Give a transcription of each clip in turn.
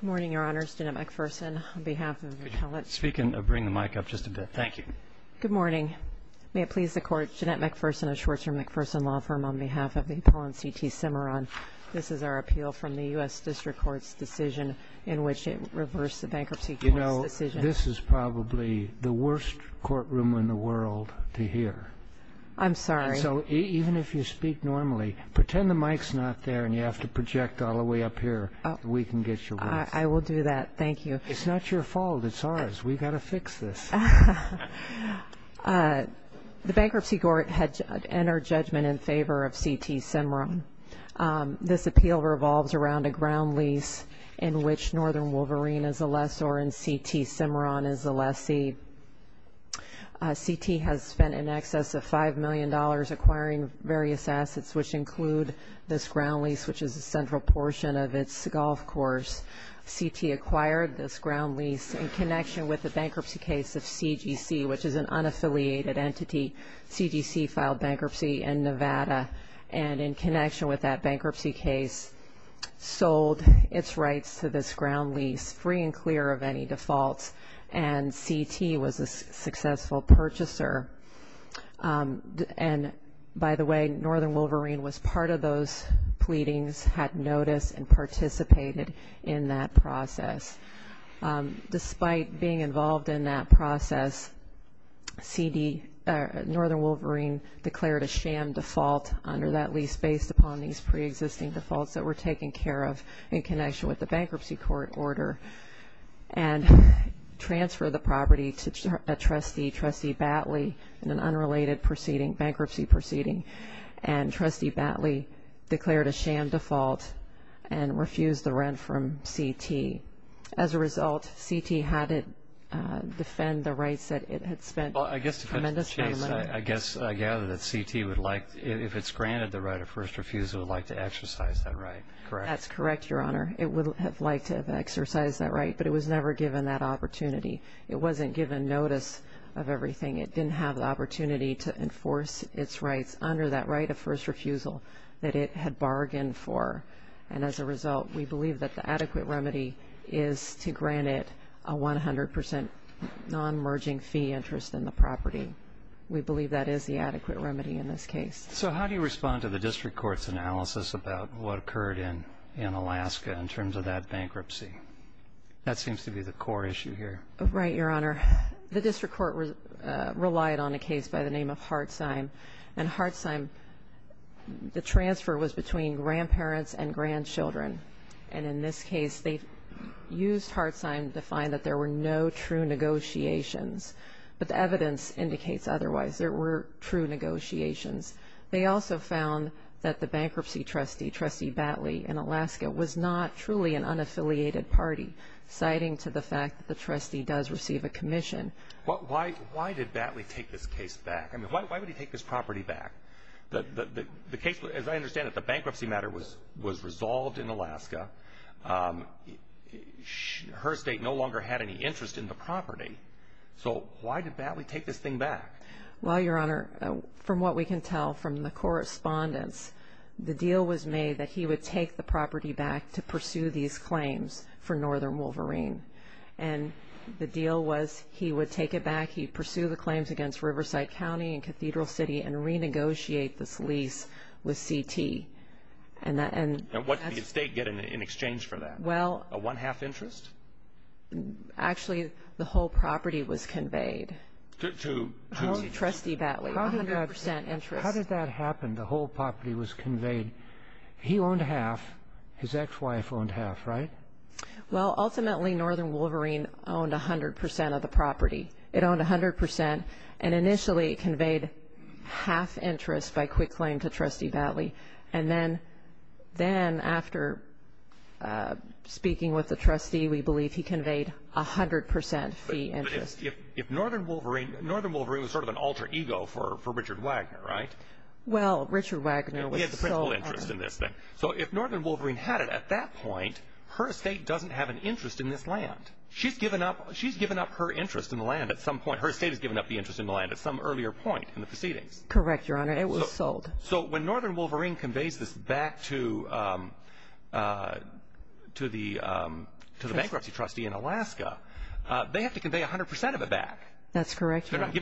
Good morning, Your Honors. Jeanette McPherson, on behalf of the appellant. Speak and bring the mic up just a bit. Thank you. Good morning. May it please the Court, Jeanette McPherson of Schwartzman McPherson Law Firm, on behalf of the appellant CT Cimarron. This is our appeal from the U.S. District Court's decision in which it reversed the bankruptcy court's decision. You know, this is probably the worst courtroom in the world to hear. I'm sorry. So even if you speak normally, pretend the mic's not there and you have to project all the way up here so we can get your words. I will do that. Thank you. It's not your fault. It's ours. We've got to fix this. The bankruptcy court had entered judgment in favor of CT Cimarron. This appeal revolves around a ground lease in which Northern Wolverine is a lessor and CT Cimarron is a lessee. CT has spent in excess of $5 million acquiring various assets, which include this ground lease, which is a central portion of its golf course. CT acquired this ground lease in connection with the bankruptcy case of CGC, which is an unaffiliated entity. CGC filed bankruptcy in Nevada and, in connection with that bankruptcy case, sold its rights to this ground lease free and clear of any defaults, and CT was a successful purchaser. And, by the way, Northern Wolverine was part of those pleadings, had notice, and participated in that process. Despite being involved in that process, Northern Wolverine declared a sham default under that lease based upon these preexisting defaults that were taken care of in connection with the bankruptcy court order and transfer the property to a trustee, Trustee Batley, in an unrelated bankruptcy proceeding. And Trustee Batley declared a sham default and refused the rent from CT. As a result, CT had to defend the rights that it had spent tremendous time on. I guess I gather that CT, if it's granted the right of first refusal, would like to exercise that right, correct? That's correct, Your Honor. It would have liked to have exercised that right, but it was never given that opportunity. It wasn't given notice of everything. It didn't have the opportunity to enforce its rights under that right of first refusal that it had bargained for. And, as a result, we believe that the adequate remedy is to grant it a 100 percent non-merging fee interest in the property. We believe that is the adequate remedy in this case. So how do you respond to the district court's analysis about what occurred in Alaska in terms of that bankruptcy? That seems to be the core issue here. Right, Your Honor. The district court relied on a case by the name of Hartsine, and Hartsine, the transfer was between grandparents and grandchildren. And in this case, they used Hartsine to find that there were no true negotiations, but the evidence indicates otherwise. There were true negotiations. They also found that the bankruptcy trustee, Trustee Batley, in Alaska was not truly an unaffiliated party, citing to the fact that the trustee does receive a commission. Why did Batley take this case back? I mean, why would he take this property back? The case, as I understand it, the bankruptcy matter was resolved in Alaska. Her estate no longer had any interest in the property. So why did Batley take this thing back? Well, Your Honor, from what we can tell from the correspondence, the deal was made that he would take the property back to pursue these claims for Northern Wolverine. And the deal was he would take it back, he'd pursue the claims against Riverside County and Cathedral City and renegotiate this lease with CT. And what did the estate get in exchange for that? A one-half interest? Actually, the whole property was conveyed to Trustee Batley, 100% interest. How did that happen, the whole property was conveyed? He owned half, his ex-wife owned half, right? Well, ultimately, Northern Wolverine owned 100% of the property. It owned 100%, and initially it conveyed half interest by quick claim to Trustee Batley. And then after speaking with the trustee, we believe he conveyed 100% fee interest. But if Northern Wolverine, Northern Wolverine was sort of an alter ego for Richard Wagner, right? Well, Richard Wagner was the sole owner. He had principal interest in this thing. So if Northern Wolverine had it at that point, her estate doesn't have an interest in this land. She's given up her interest in the land at some point. Her estate has given up the interest in the land at some earlier point in the proceedings. Correct, Your Honor. It was sold. So when Northern Wolverine conveys this back to the bankruptcy trustee in Alaska, they have to convey 100% of it back. That's correct, Your Honor.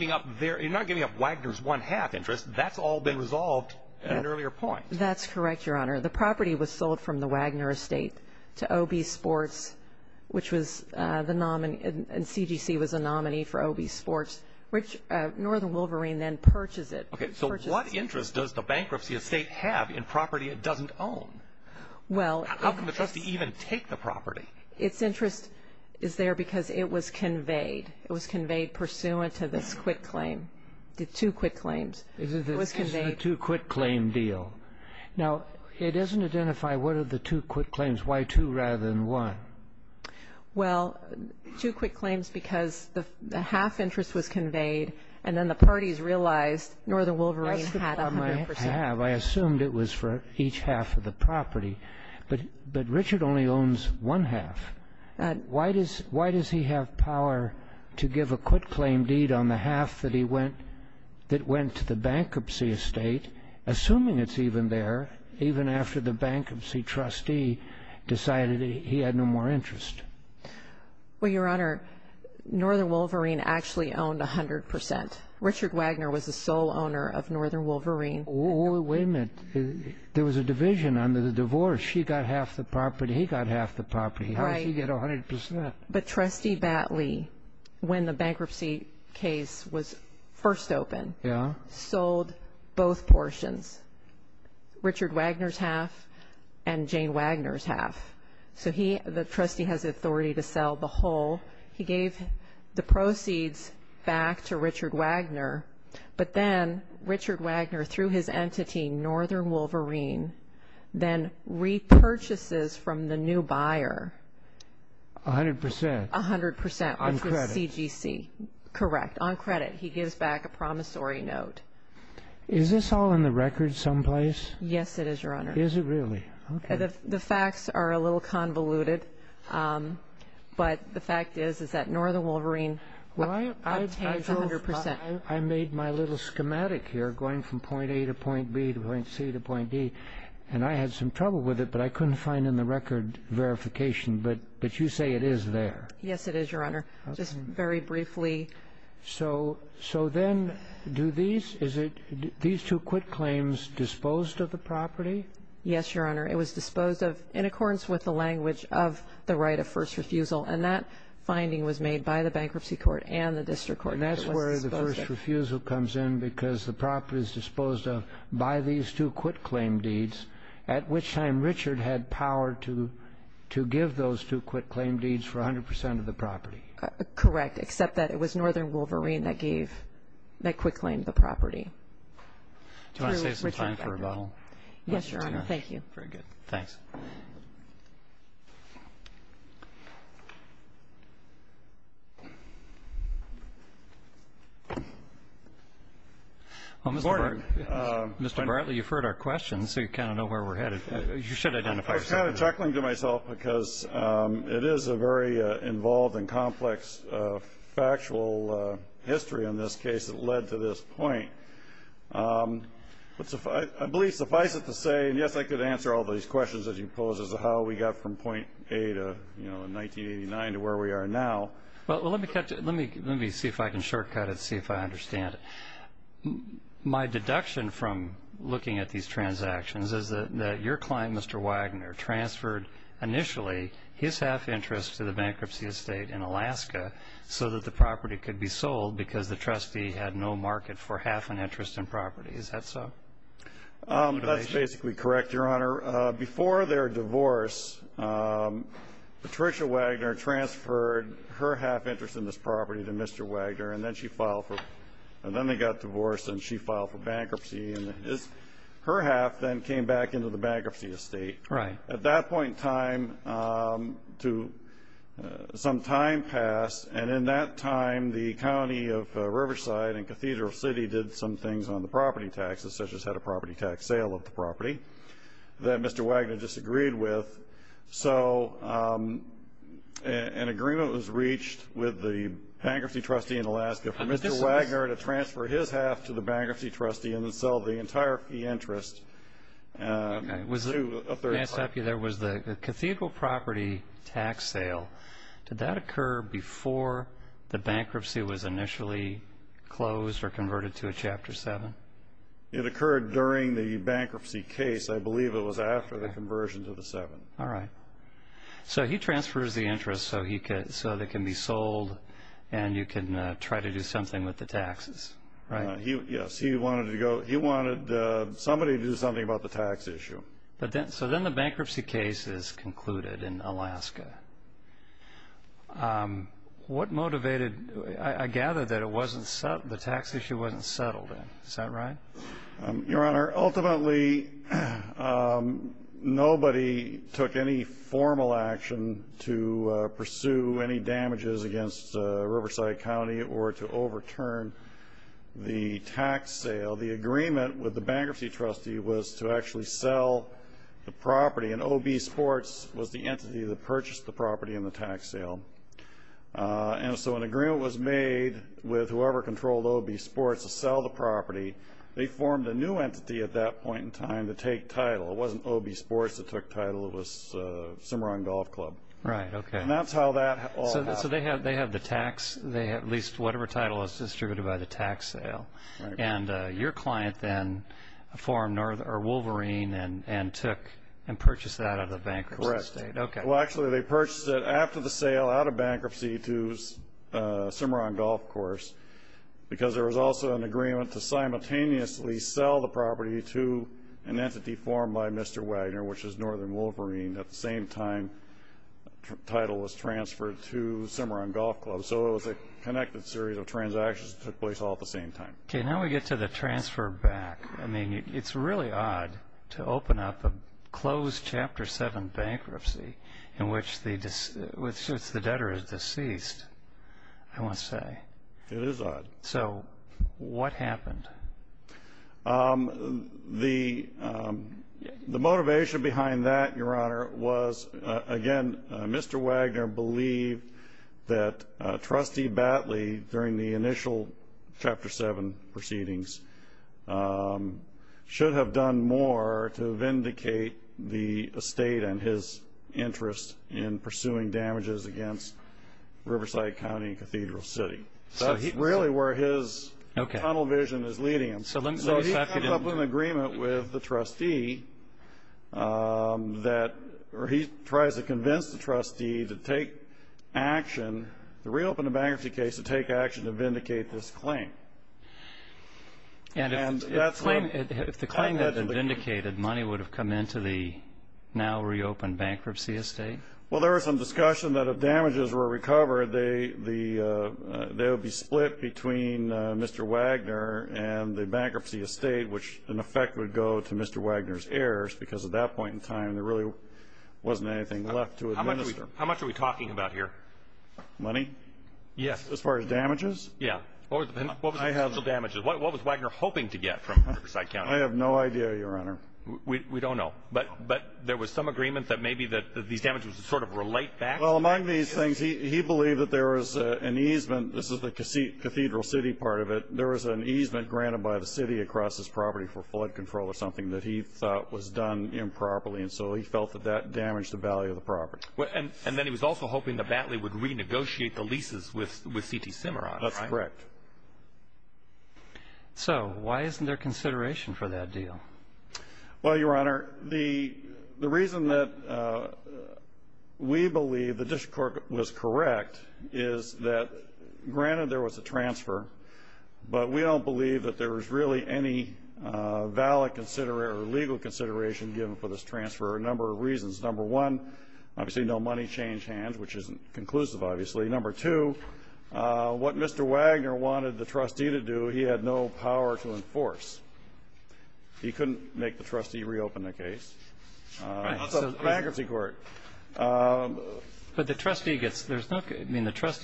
They're not giving up Wagner's one-half interest. That's all been resolved at an earlier point. That's correct, Your Honor. The property was sold from the Wagner estate to OB Sports, which was the nominee. And CGC was a nominee for OB Sports, which Northern Wolverine then purchased it. Okay, so what interest does the bankruptcy estate have in property it doesn't own? How can the trustee even take the property? Its interest is there because it was conveyed. It was conveyed pursuant to this quick claim, the two quick claims. It's the two quick claim deal. Now, it doesn't identify what are the two quick claims. Why two rather than one? Well, two quick claims because the half interest was conveyed, and then the parties realized Northern Wolverine had 100%. That's the problem I have. I assumed it was for each half of the property. But Richard only owns one half. Why does he have power to give a quick claim deed on the half that went to the bankruptcy estate, assuming it's even there, even after the bankruptcy trustee decided he had no more interest? Well, Your Honor, Northern Wolverine actually owned 100%. Richard Wagner was the sole owner of Northern Wolverine. Wait a minute. There was a division under the divorce. She got half the property. He got half the property. How does he get 100%? But Trustee Batley, when the bankruptcy case was first opened, sold both portions, Richard Wagner's half and Jane Wagner's half. So the trustee has authority to sell the whole. He gave the proceeds back to Richard Wagner. But then Richard Wagner, through his entity, Northern Wolverine, then repurchases from the new buyer. 100%? 100%, which was CGC. On credit? Correct. On credit. He gives back a promissory note. Is this all in the records someplace? Yes, it is, Your Honor. Is it really? Okay. The facts are a little convoluted, but the fact is that Northern Wolverine obtains 100%. I made my little schematic here going from point A to point B to point C to point D. And I had some trouble with it, but I couldn't find in the record verification. But you say it is there. Yes, it is, Your Honor. Just very briefly. So then do these – is it – these two quit claims disposed of the property? Yes, Your Honor. It was disposed of in accordance with the language of the right of first refusal. And that finding was made by the bankruptcy court and the district court. And that's where the first refusal comes in because the property is disposed of by these two quit claim deeds, at which time Richard had power to give those two quit claim deeds for 100% of the property. Correct, except that it was Northern Wolverine that gave – that quit claimed the property. Do you want to save some time for a bottle? Yes, Your Honor. Thank you. Very good. Thanks. Mr. Bartley, you've heard our questions, so you kind of know where we're headed. You should identify yourself. I'm kind of chuckling to myself because it is a very involved and complex factual history in this case that led to this point. I believe suffice it to say – and, yes, I could answer all these questions that you posed as to how we got from point A to, you know, 1989 to where we are now. Well, let me see if I can shortcut it, see if I understand it. My deduction from looking at these transactions is that your client, Mr. Wagner, transferred initially his half interest to the bankruptcy estate in Alaska so that the property could be sold because the trustee had no market for half an interest in property. Is that so? That's basically correct, Your Honor. Your Honor, before their divorce, Patricia Wagner transferred her half interest in this property to Mr. Wagner, and then they got divorced and she filed for bankruptcy. Her half then came back into the bankruptcy estate. At that point in time, some time passed, and in that time, the county of Riverside and Cathedral City did some things on the property taxes, such as had a property tax sale of the property that Mr. Wagner disagreed with. So an agreement was reached with the bankruptcy trustee in Alaska for Mr. Wagner to transfer his half to the bankruptcy trustee and then sell the entire fee interest to a third party. May I ask you, there was the Cathedral property tax sale. Did that occur before the bankruptcy was initially closed or converted to a Chapter 7? It occurred during the bankruptcy case. I believe it was after the conversion to the 7. All right. So he transfers the interest so they can be sold and you can try to do something with the taxes, right? Yes. He wanted somebody to do something about the tax issue. So then the bankruptcy case is concluded in Alaska. What motivated you? I gather that the tax issue wasn't settled then. Is that right? Your Honor, ultimately nobody took any formal action to pursue any damages against Riverside County or to overturn the tax sale. The agreement with the bankruptcy trustee was to actually sell the property, and O.B. Sports was the entity that purchased the property in the tax sale. So an agreement was made with whoever controlled O.B. Sports to sell the property. They formed a new entity at that point in time to take title. It wasn't O.B. Sports that took title. It was Cimarron Golf Club. Right, okay. And that's how that all happened. So they have the tax, at least whatever title is distributed by the tax sale. Right. And your client then formed Wolverine and purchased that out of the bankruptcy state. Correct. Okay. Well, actually they purchased it after the sale out of bankruptcy to Cimarron Golf Course because there was also an agreement to simultaneously sell the property to an entity formed by Mr. Wagner, which is Northern Wolverine. At the same time, title was transferred to Cimarron Golf Club. So it was a connected series of transactions that took place all at the same time. Okay, now we get to the transfer back. I mean, it's really odd to open up a closed Chapter 7 bankruptcy in which the debtor is deceased, I must say. It is odd. So what happened? The motivation behind that, Your Honor, was, again, Mr. Wagner believed that Trustee Batley, during the initial Chapter 7 proceedings, should have done more to vindicate the estate and his interest in pursuing damages against Riverside County and Cathedral City. That's really where his tunnel vision is leading him. So he comes up with an agreement with the trustee that he tries to convince the trustee to take action, to reopen the bankruptcy case to take action to vindicate this claim. And if the claim had been vindicated, money would have come into the now-reopened bankruptcy estate? Well, there was some discussion that if damages were recovered, they would be split between Mr. Wagner and the bankruptcy estate, which in effect would go to Mr. Wagner's heirs because at that point in time, there really wasn't anything left to administer. How much are we talking about here? Money? Yes. As far as damages? Yeah. What was Wagner hoping to get from Riverside County? I have no idea, Your Honor. We don't know. But there was some agreement that maybe these damages would sort of relate back? Well, among these things, he believed that there was an easement. This is the Cathedral City part of it. There was an easement granted by the city across this property for flood control or something that he thought was done improperly, and so he felt that that damaged the value of the property. And then he was also hoping that Batley would renegotiate the leases with C.T. Simmer on it, right? That's correct. So why isn't there consideration for that deal? Well, Your Honor, the reason that we believe the district court was correct is that, granted there was a transfer, but we don't believe that there was really any valid consideration or legal consideration given for this transfer for a number of reasons. Number one, obviously no money change hands, which isn't conclusive, obviously. Number two, what Mr. Wagner wanted the trustee to do, he had no power to enforce. He couldn't make the trustee reopen the case. How about the bankruptcy court? But the trustee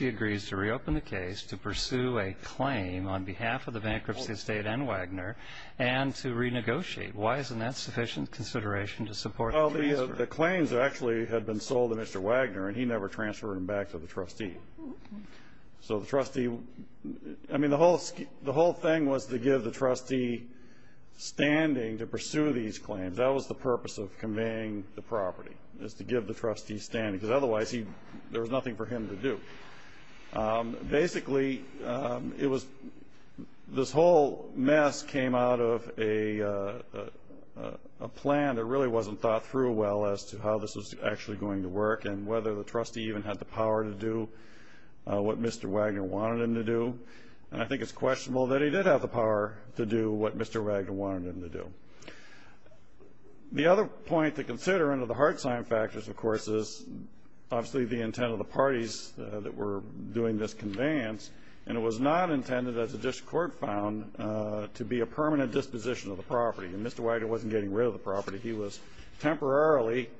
agrees to reopen the case to pursue a claim on behalf of the bankruptcy estate and Wagner and to renegotiate. Why isn't that sufficient consideration to support the transfer? Well, the claims actually had been sold to Mr. Wagner, and he never transferred them back to the trustee. So the trustee, I mean, the whole thing was to give the trustee standing to pursue these claims. That was the purpose of conveying the property, is to give the trustee standing, because otherwise there was nothing for him to do. Basically, it was this whole mess came out of a plan that really wasn't thought through well as to how this was actually going to work and whether the trustee even had the power to do what Mr. Wagner wanted him to do. And I think it's questionable that he did have the power to do what Mr. Wagner wanted him to do. The other point to consider under the hard-signed factors, of course, is obviously the intent of the parties that were doing this conveyance, and it was not intended, as the district court found, to be a permanent disposition of the property. He was temporarily,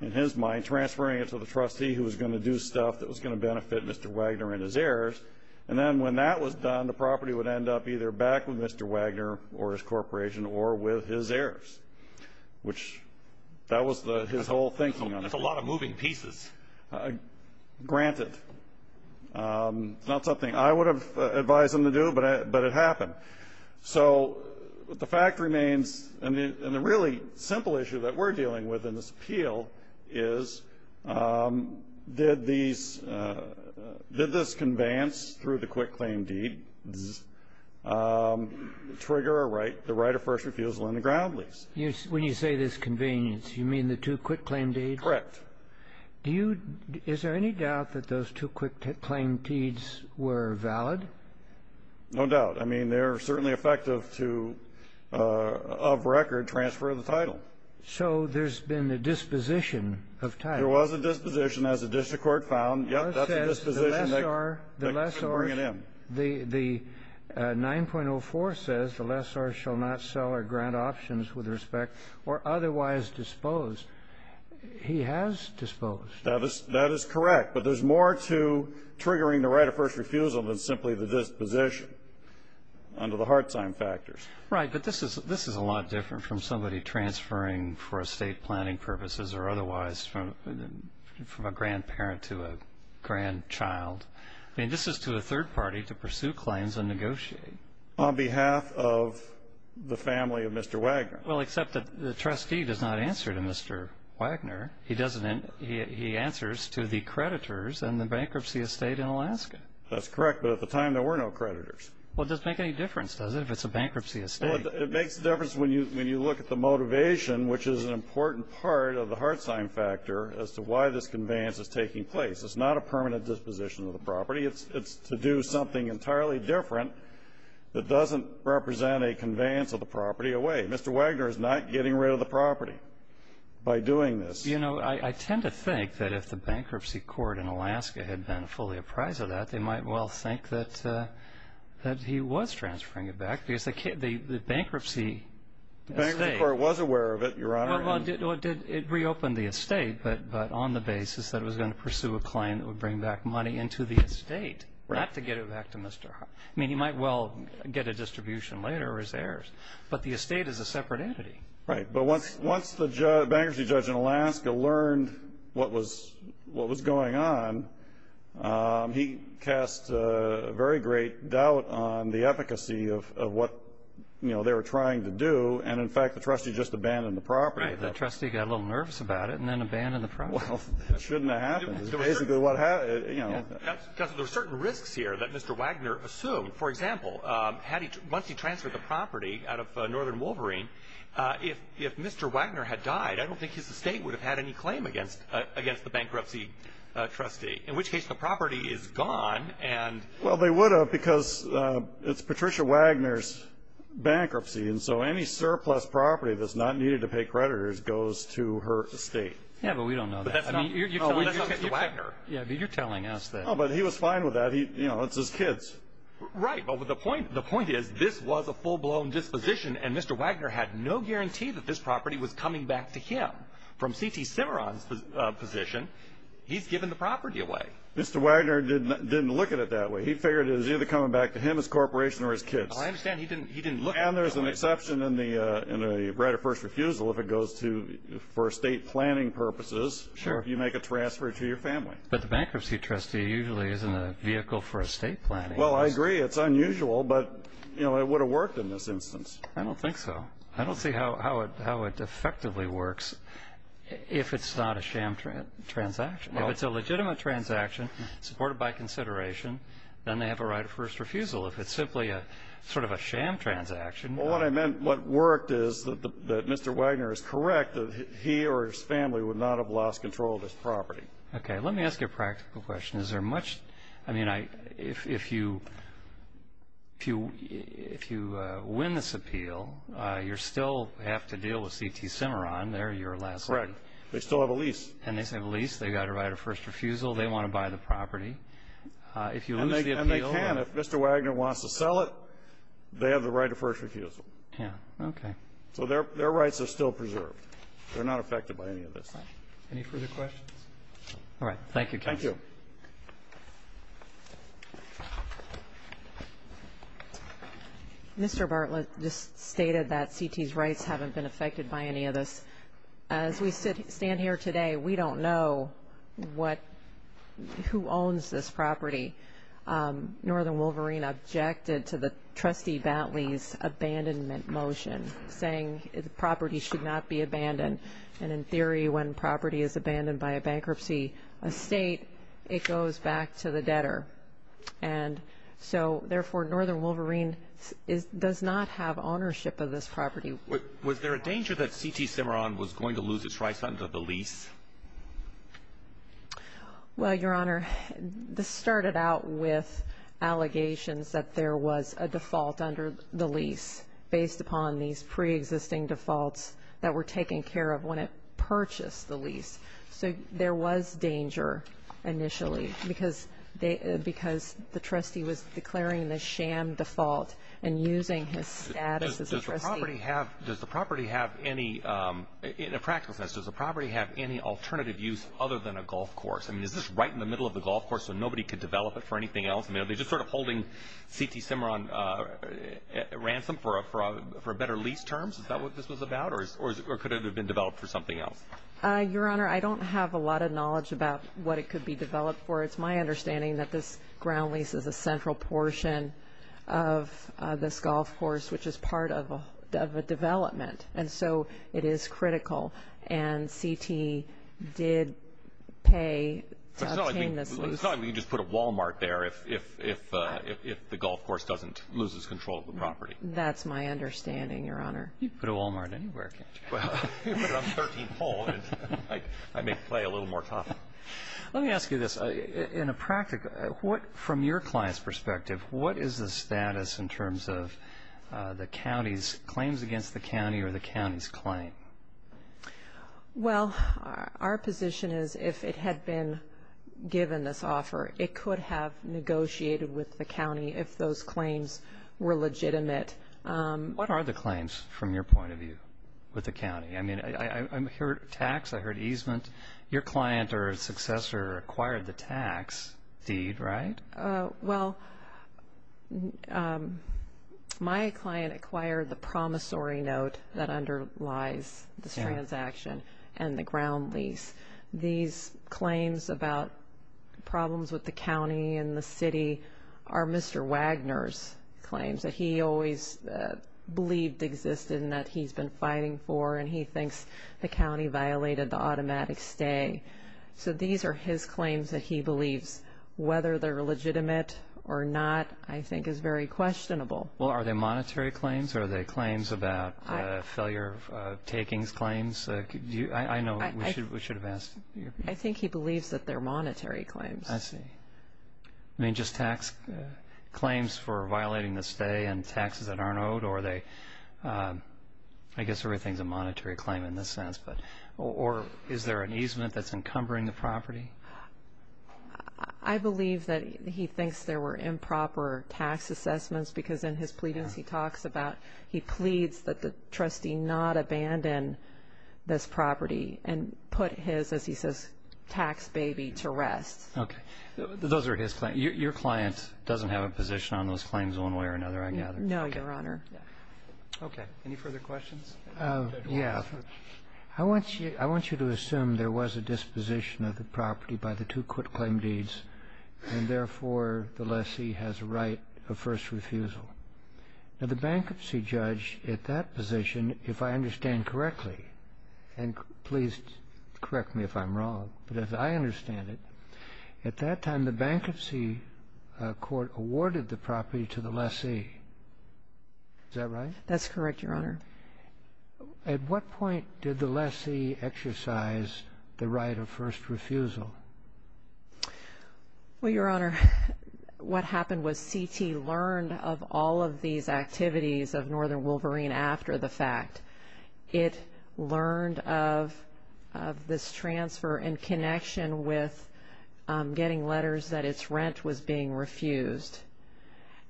in his mind, transferring it to the trustee who was going to do stuff that was going to benefit Mr. Wagner and his heirs. And then when that was done, the property would end up either back with Mr. Wagner or his corporation or with his heirs, which that was his whole thinking on it. That's a lot of moving pieces. Granted. It's not something I would have advised him to do, but it happened. So the fact remains, and the really simple issue that we're dealing with in this appeal is, did these – did this conveyance through the quick claim deed trigger the right of first refusal in the ground lease? When you say this conveyance, you mean the two quick claim deeds? Correct. Do you – is there any doubt that those two quick claim deeds were valid? No doubt. I mean, they're certainly effective to, of record, transfer the title. So there's been a disposition of title. There was a disposition, as the district court found. Yes, that's a disposition that couldn't bring it in. The 9.04 says the lessor shall not sell or grant options with respect or otherwise dispose. He has disposed. That is correct. But there's more to triggering the right of first refusal than simply the disposition under the hard time factors. Right, but this is a lot different from somebody transferring for estate planning purposes or otherwise from a grandparent to a grandchild. I mean, this is to a third party to pursue claims and negotiate. On behalf of the family of Mr. Wagner. Well, except that the trustee does not answer to Mr. Wagner. He doesn't. He answers to the creditors and the bankruptcy estate in Alaska. That's correct, but at the time there were no creditors. Well, it doesn't make any difference, does it, if it's a bankruptcy estate? Well, it makes a difference when you look at the motivation, which is an important part of the hard time factor as to why this conveyance is taking place. It's not a permanent disposition of the property. It's to do something entirely different that doesn't represent a conveyance of the property away. Mr. Wagner is not getting rid of the property by doing this. You know, I tend to think that if the bankruptcy court in Alaska had been fully apprised of that, they might well think that he was transferring it back because the bankruptcy estate. The bankruptcy court was aware of it, Your Honor. Well, it reopened the estate, but on the basis that it was going to pursue a claim that would bring back money into the estate, not to get it back to Mr. Wagner. But the estate is a separate entity. Right, but once the bankruptcy judge in Alaska learned what was going on, he cast very great doubt on the efficacy of what, you know, they were trying to do. And, in fact, the trustee just abandoned the property. Right, the trustee got a little nervous about it and then abandoned the property. Well, it shouldn't have happened. Counselor, there are certain risks here that Mr. Wagner assumed. For example, once he transferred the property out of Northern Wolverine, if Mr. Wagner had died, I don't think his estate would have had any claim against the bankruptcy trustee, in which case the property is gone. Well, they would have because it's Patricia Wagner's bankruptcy, and so any surplus property that's not needed to pay creditors goes to her estate. Yeah, but we don't know that. You're telling us that Mr. Wagner. Yeah, but you're telling us that. No, but he was fine with that. You know, it's his kids. Right, but the point is this was a full-blown disposition, and Mr. Wagner had no guarantee that this property was coming back to him. From C.T. Cimarron's position, he's given the property away. Mr. Wagner didn't look at it that way. He figured it was either coming back to him, his corporation, or his kids. Well, I understand he didn't look at it that way. And there's an exception in the right of first refusal if it goes to, for estate planning purposes, if you make a transfer to your family. But the bankruptcy trustee usually isn't a vehicle for estate planning. Well, I agree. It's unusual, but, you know, it would have worked in this instance. I don't think so. I don't see how it effectively works if it's not a sham transaction. If it's a legitimate transaction supported by consideration, then they have a right of first refusal. If it's simply sort of a sham transaction. Well, what I meant, what worked is that Mr. Wagner is correct that he or his family would not have lost control of this property. Okay. Let me ask you a practical question. Is there much? I mean, if you win this appeal, you still have to deal with C.T. Cimarron. They're your last hope. Correct. They still have a lease. And they still have a lease. They've got a right of first refusal. They want to buy the property. If you lose the appeal. And they can. If Mr. Wagner wants to sell it, they have the right of first refusal. Yeah. Okay. So their rights are still preserved. They're not affected by any of this. Excellent. Any further questions? All right. Thank you, counsel. Thank you. Mr. Bartlett just stated that C.T.'s rights haven't been affected by any of this. As we stand here today, we don't know who owns this property. Northern Wolverine objected to the Trustee Batley's abandonment motion, saying the property should not be abandoned. And in theory, when property is abandoned by a bankruptcy estate, it goes back to the debtor. And so, therefore, Northern Wolverine does not have ownership of this property. Was there a danger that C.T. Cimarron was going to lose its rights under the lease? Well, Your Honor, this started out with allegations that there was a default under the lease, based upon these preexisting defaults that were taken care of when it purchased the lease. So there was danger initially because the trustee was declaring the sham default and using his status as a trustee. Does the property have any, in a practical sense, does the property have any alternative use other than a golf course? I mean, is this right in the middle of the golf course so nobody could develop it for anything else? I mean, are they just sort of holding C.T. Cimarron ransom for better lease terms? Is that what this was about? Or could it have been developed for something else? Your Honor, I don't have a lot of knowledge about what it could be developed for. It's my understanding that this ground lease is a central portion of this golf course, which is part of a development. And so it is critical. And C.T. did pay to obtain this lease. It's not like we can just put a Wal-Mart there if the golf course loses control of the property. That's my understanding, Your Honor. You can put a Wal-Mart anywhere, can't you? You can put it on 13th Hole and I may play a little more tough. Let me ask you this. In a practical, from your client's perspective, what is the status in terms of the county's claims against the county or the county's claim? Well, our position is if it had been given this offer, it could have negotiated with the county if those claims were legitimate. What are the claims from your point of view with the county? I mean, I heard tax, I heard easement. Your client or successor acquired the tax deed, right? Well, my client acquired the promissory note that underlies this transaction and the ground lease. These claims about problems with the county and the city are Mr. Wagner's claims that he always believed existed and that he's been fighting for, and he thinks the county violated the automatic stay. So these are his claims that he believes, whether they're legitimate or not, I think is very questionable. Well, are they monetary claims or are they claims about failure of takings claims? I know we should have asked. I think he believes that they're monetary claims. I see. I mean, just tax claims for violating the stay and taxes that aren't owed, or are they, I guess everything's a monetary claim in this sense, or is there an easement that's encumbering the property? I believe that he thinks there were improper tax assessments because in his pleadings he talks about he pleads that the trustee not abandon this property and put his, as he says, tax baby to rest. Okay. Those are his claims. Your client doesn't have a position on those claims one way or another, I gather? No, Your Honor. Okay. Any further questions? Yes. I want you to assume there was a disposition of the property by the two court-claimed deeds and therefore the lessee has a right of first refusal. Now, the bankruptcy judge at that position, if I understand correctly, and please correct me if I'm wrong, but as I understand it, at that time the bankruptcy court awarded the property to the lessee. Is that right? That's correct, Your Honor. At what point did the lessee exercise the right of first refusal? Well, Your Honor, what happened was CT learned of all of these activities of Northern Wolverine after the fact. It learned of this transfer in connection with getting letters that its rent was being refused.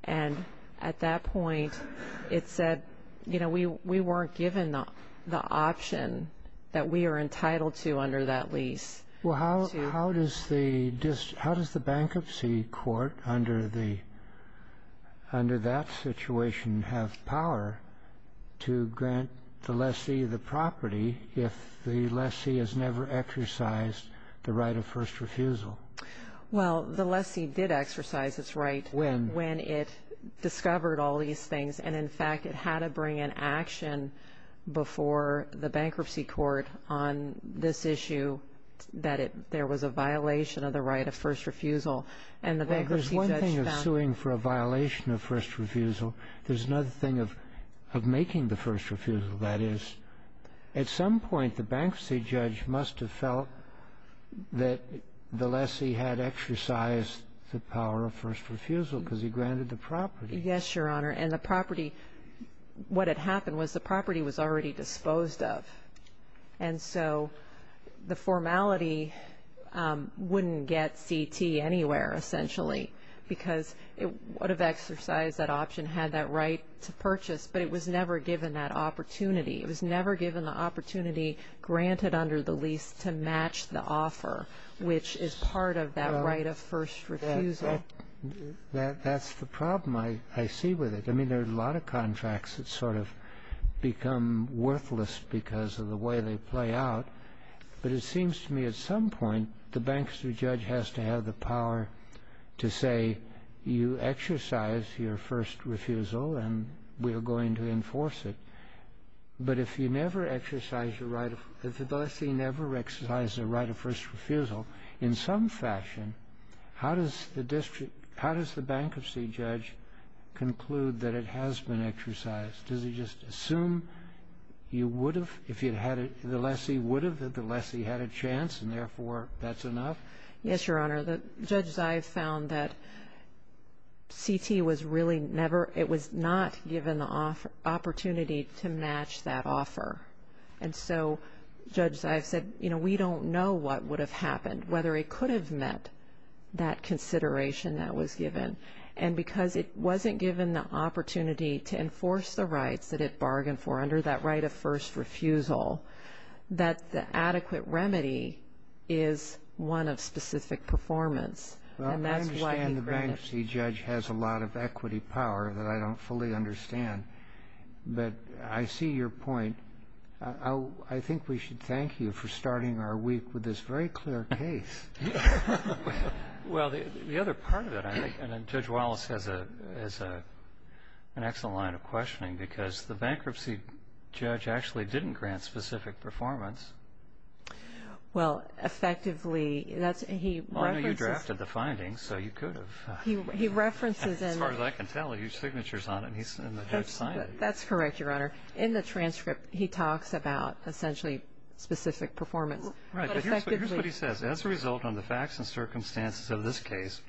And at that point it said, you know, we weren't given the option that we are entitled to under that lease. Well, how does the bankruptcy court under that situation have power to grant the lessee the property if the lessee has never exercised the right of first refusal? Well, the lessee did exercise its right when it discovered all these things. And, in fact, it had to bring an action before the bankruptcy court on this issue that there was a violation of the right of first refusal. Well, there's one thing of suing for a violation of first refusal. There's another thing of making the first refusal, that is. At some point the bankruptcy judge must have felt that the lessee had exercised the power of first refusal because he granted the property. Yes, Your Honor. And the property, what had happened was the property was already disposed of. And so the formality wouldn't get CT anywhere essentially because it would have exercised that option, had that right to purchase, but it was never given that opportunity. It was never given the opportunity granted under the lease to match the offer, which is part of that right of first refusal. That's the problem I see with it. I mean, there are a lot of contracts that sort of become worthless because of the way they play out. But it seems to me at some point the bankruptcy judge has to have the power to say, you exercise your first refusal and we are going to enforce it. But if the lessee never exercised the right of first refusal, in some fashion, how does the bankruptcy judge conclude that it has been exercised? Does he just assume the lessee would have if the lessee had a chance and, therefore, that's enough? Yes, Your Honor. Judge Zive found that CT was really never, it was not given the opportunity to match that offer. And so Judge Zive said, you know, we don't know what would have happened, whether it could have met that consideration that was given. And because it wasn't given the opportunity to enforce the rights that it bargained for under that right of first refusal, that the adequate remedy is one of specific performance. And that's why he granted it. Well, I understand the bankruptcy judge has a lot of equity power that I don't fully understand. But I see your point. I think we should thank you for starting our week with this very clear case. Well, the other part of it, I think, and Judge Wallace has an excellent line of questioning, because the bankruptcy judge actually didn't grant specific performance. Well, effectively, that's, he references. I know you drafted the findings, so you could have. He references in. As far as I can tell, he has signatures on it, and he's in the judge's signing. That's correct, Your Honor. In the transcript, he talks about, essentially, specific performance. Right. But here's what he says. As a result of the facts and circumstances of this case,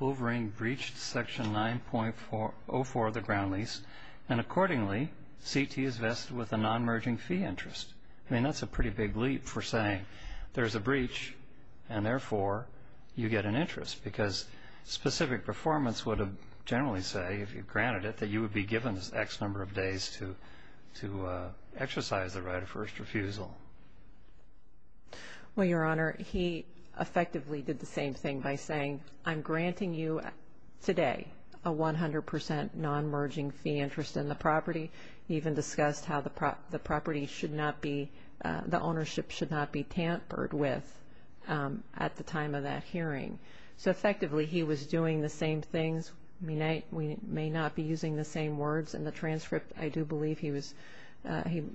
Wolverine breached Section 9.04 of the ground lease, and accordingly, CT is vested with a non-merging fee interest. I mean, that's a pretty big leap for saying there's a breach and, therefore, you get an interest, because specific performance would generally say, if you granted it, that you would be given X number of days to exercise the right of first refusal. Well, Your Honor, he effectively did the same thing by saying, I'm granting you today a 100% non-merging fee interest in the property. He even discussed how the property should not be, the ownership should not be tampered with at the time of that hearing. So, effectively, he was doing the same things. We may not be using the same words in the transcript. I do believe he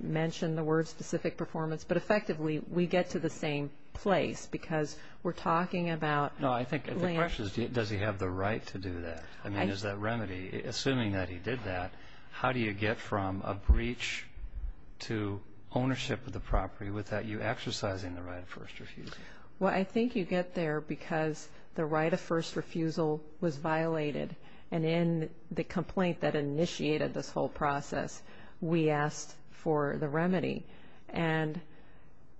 mentioned the word specific performance. But, effectively, we get to the same place, because we're talking about land. No, I think the question is, does he have the right to do that? I mean, is that remedy? Assuming that he did that, how do you get from a breach to ownership of the property without you exercising the right of first refusal? Well, I think you get there because the right of first refusal was violated. And in the complaint that initiated this whole process, we asked for the remedy. And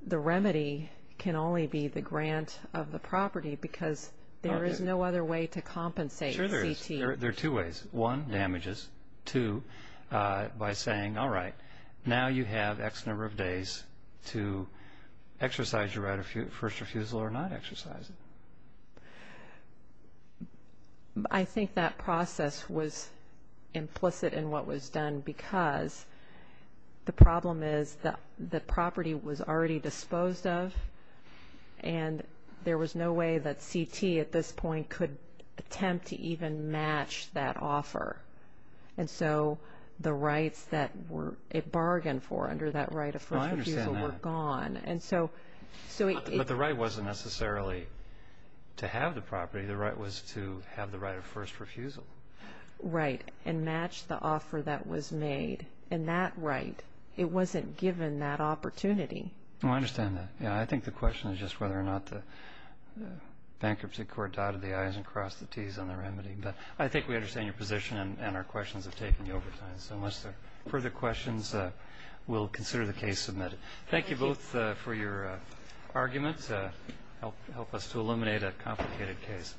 the remedy can only be the grant of the property, because there is no other way to compensate CT. Sure there is. There are two ways. One, damages. Two, by saying, all right, now you have X number of days to exercise your right of first refusal or not exercise it. I think that process was implicit in what was done, because the problem is that the property was already disposed of, and there was no way that CT at this point could attempt to even match that offer. And so the rights that it bargained for under that right of first refusal were gone. I understand that. But the right wasn't necessarily to have the property. The right was to have the right of first refusal. Right, and match the offer that was made. And that right, it wasn't given that opportunity. I understand that. I think the question is just whether or not the bankruptcy court dotted the I's and crossed the T's on the remedy. But I think we understand your position and our questions of taking the overtime. So unless there are further questions, we'll consider the case submitted. Thank you both for your arguments. Help us to eliminate a complicated case.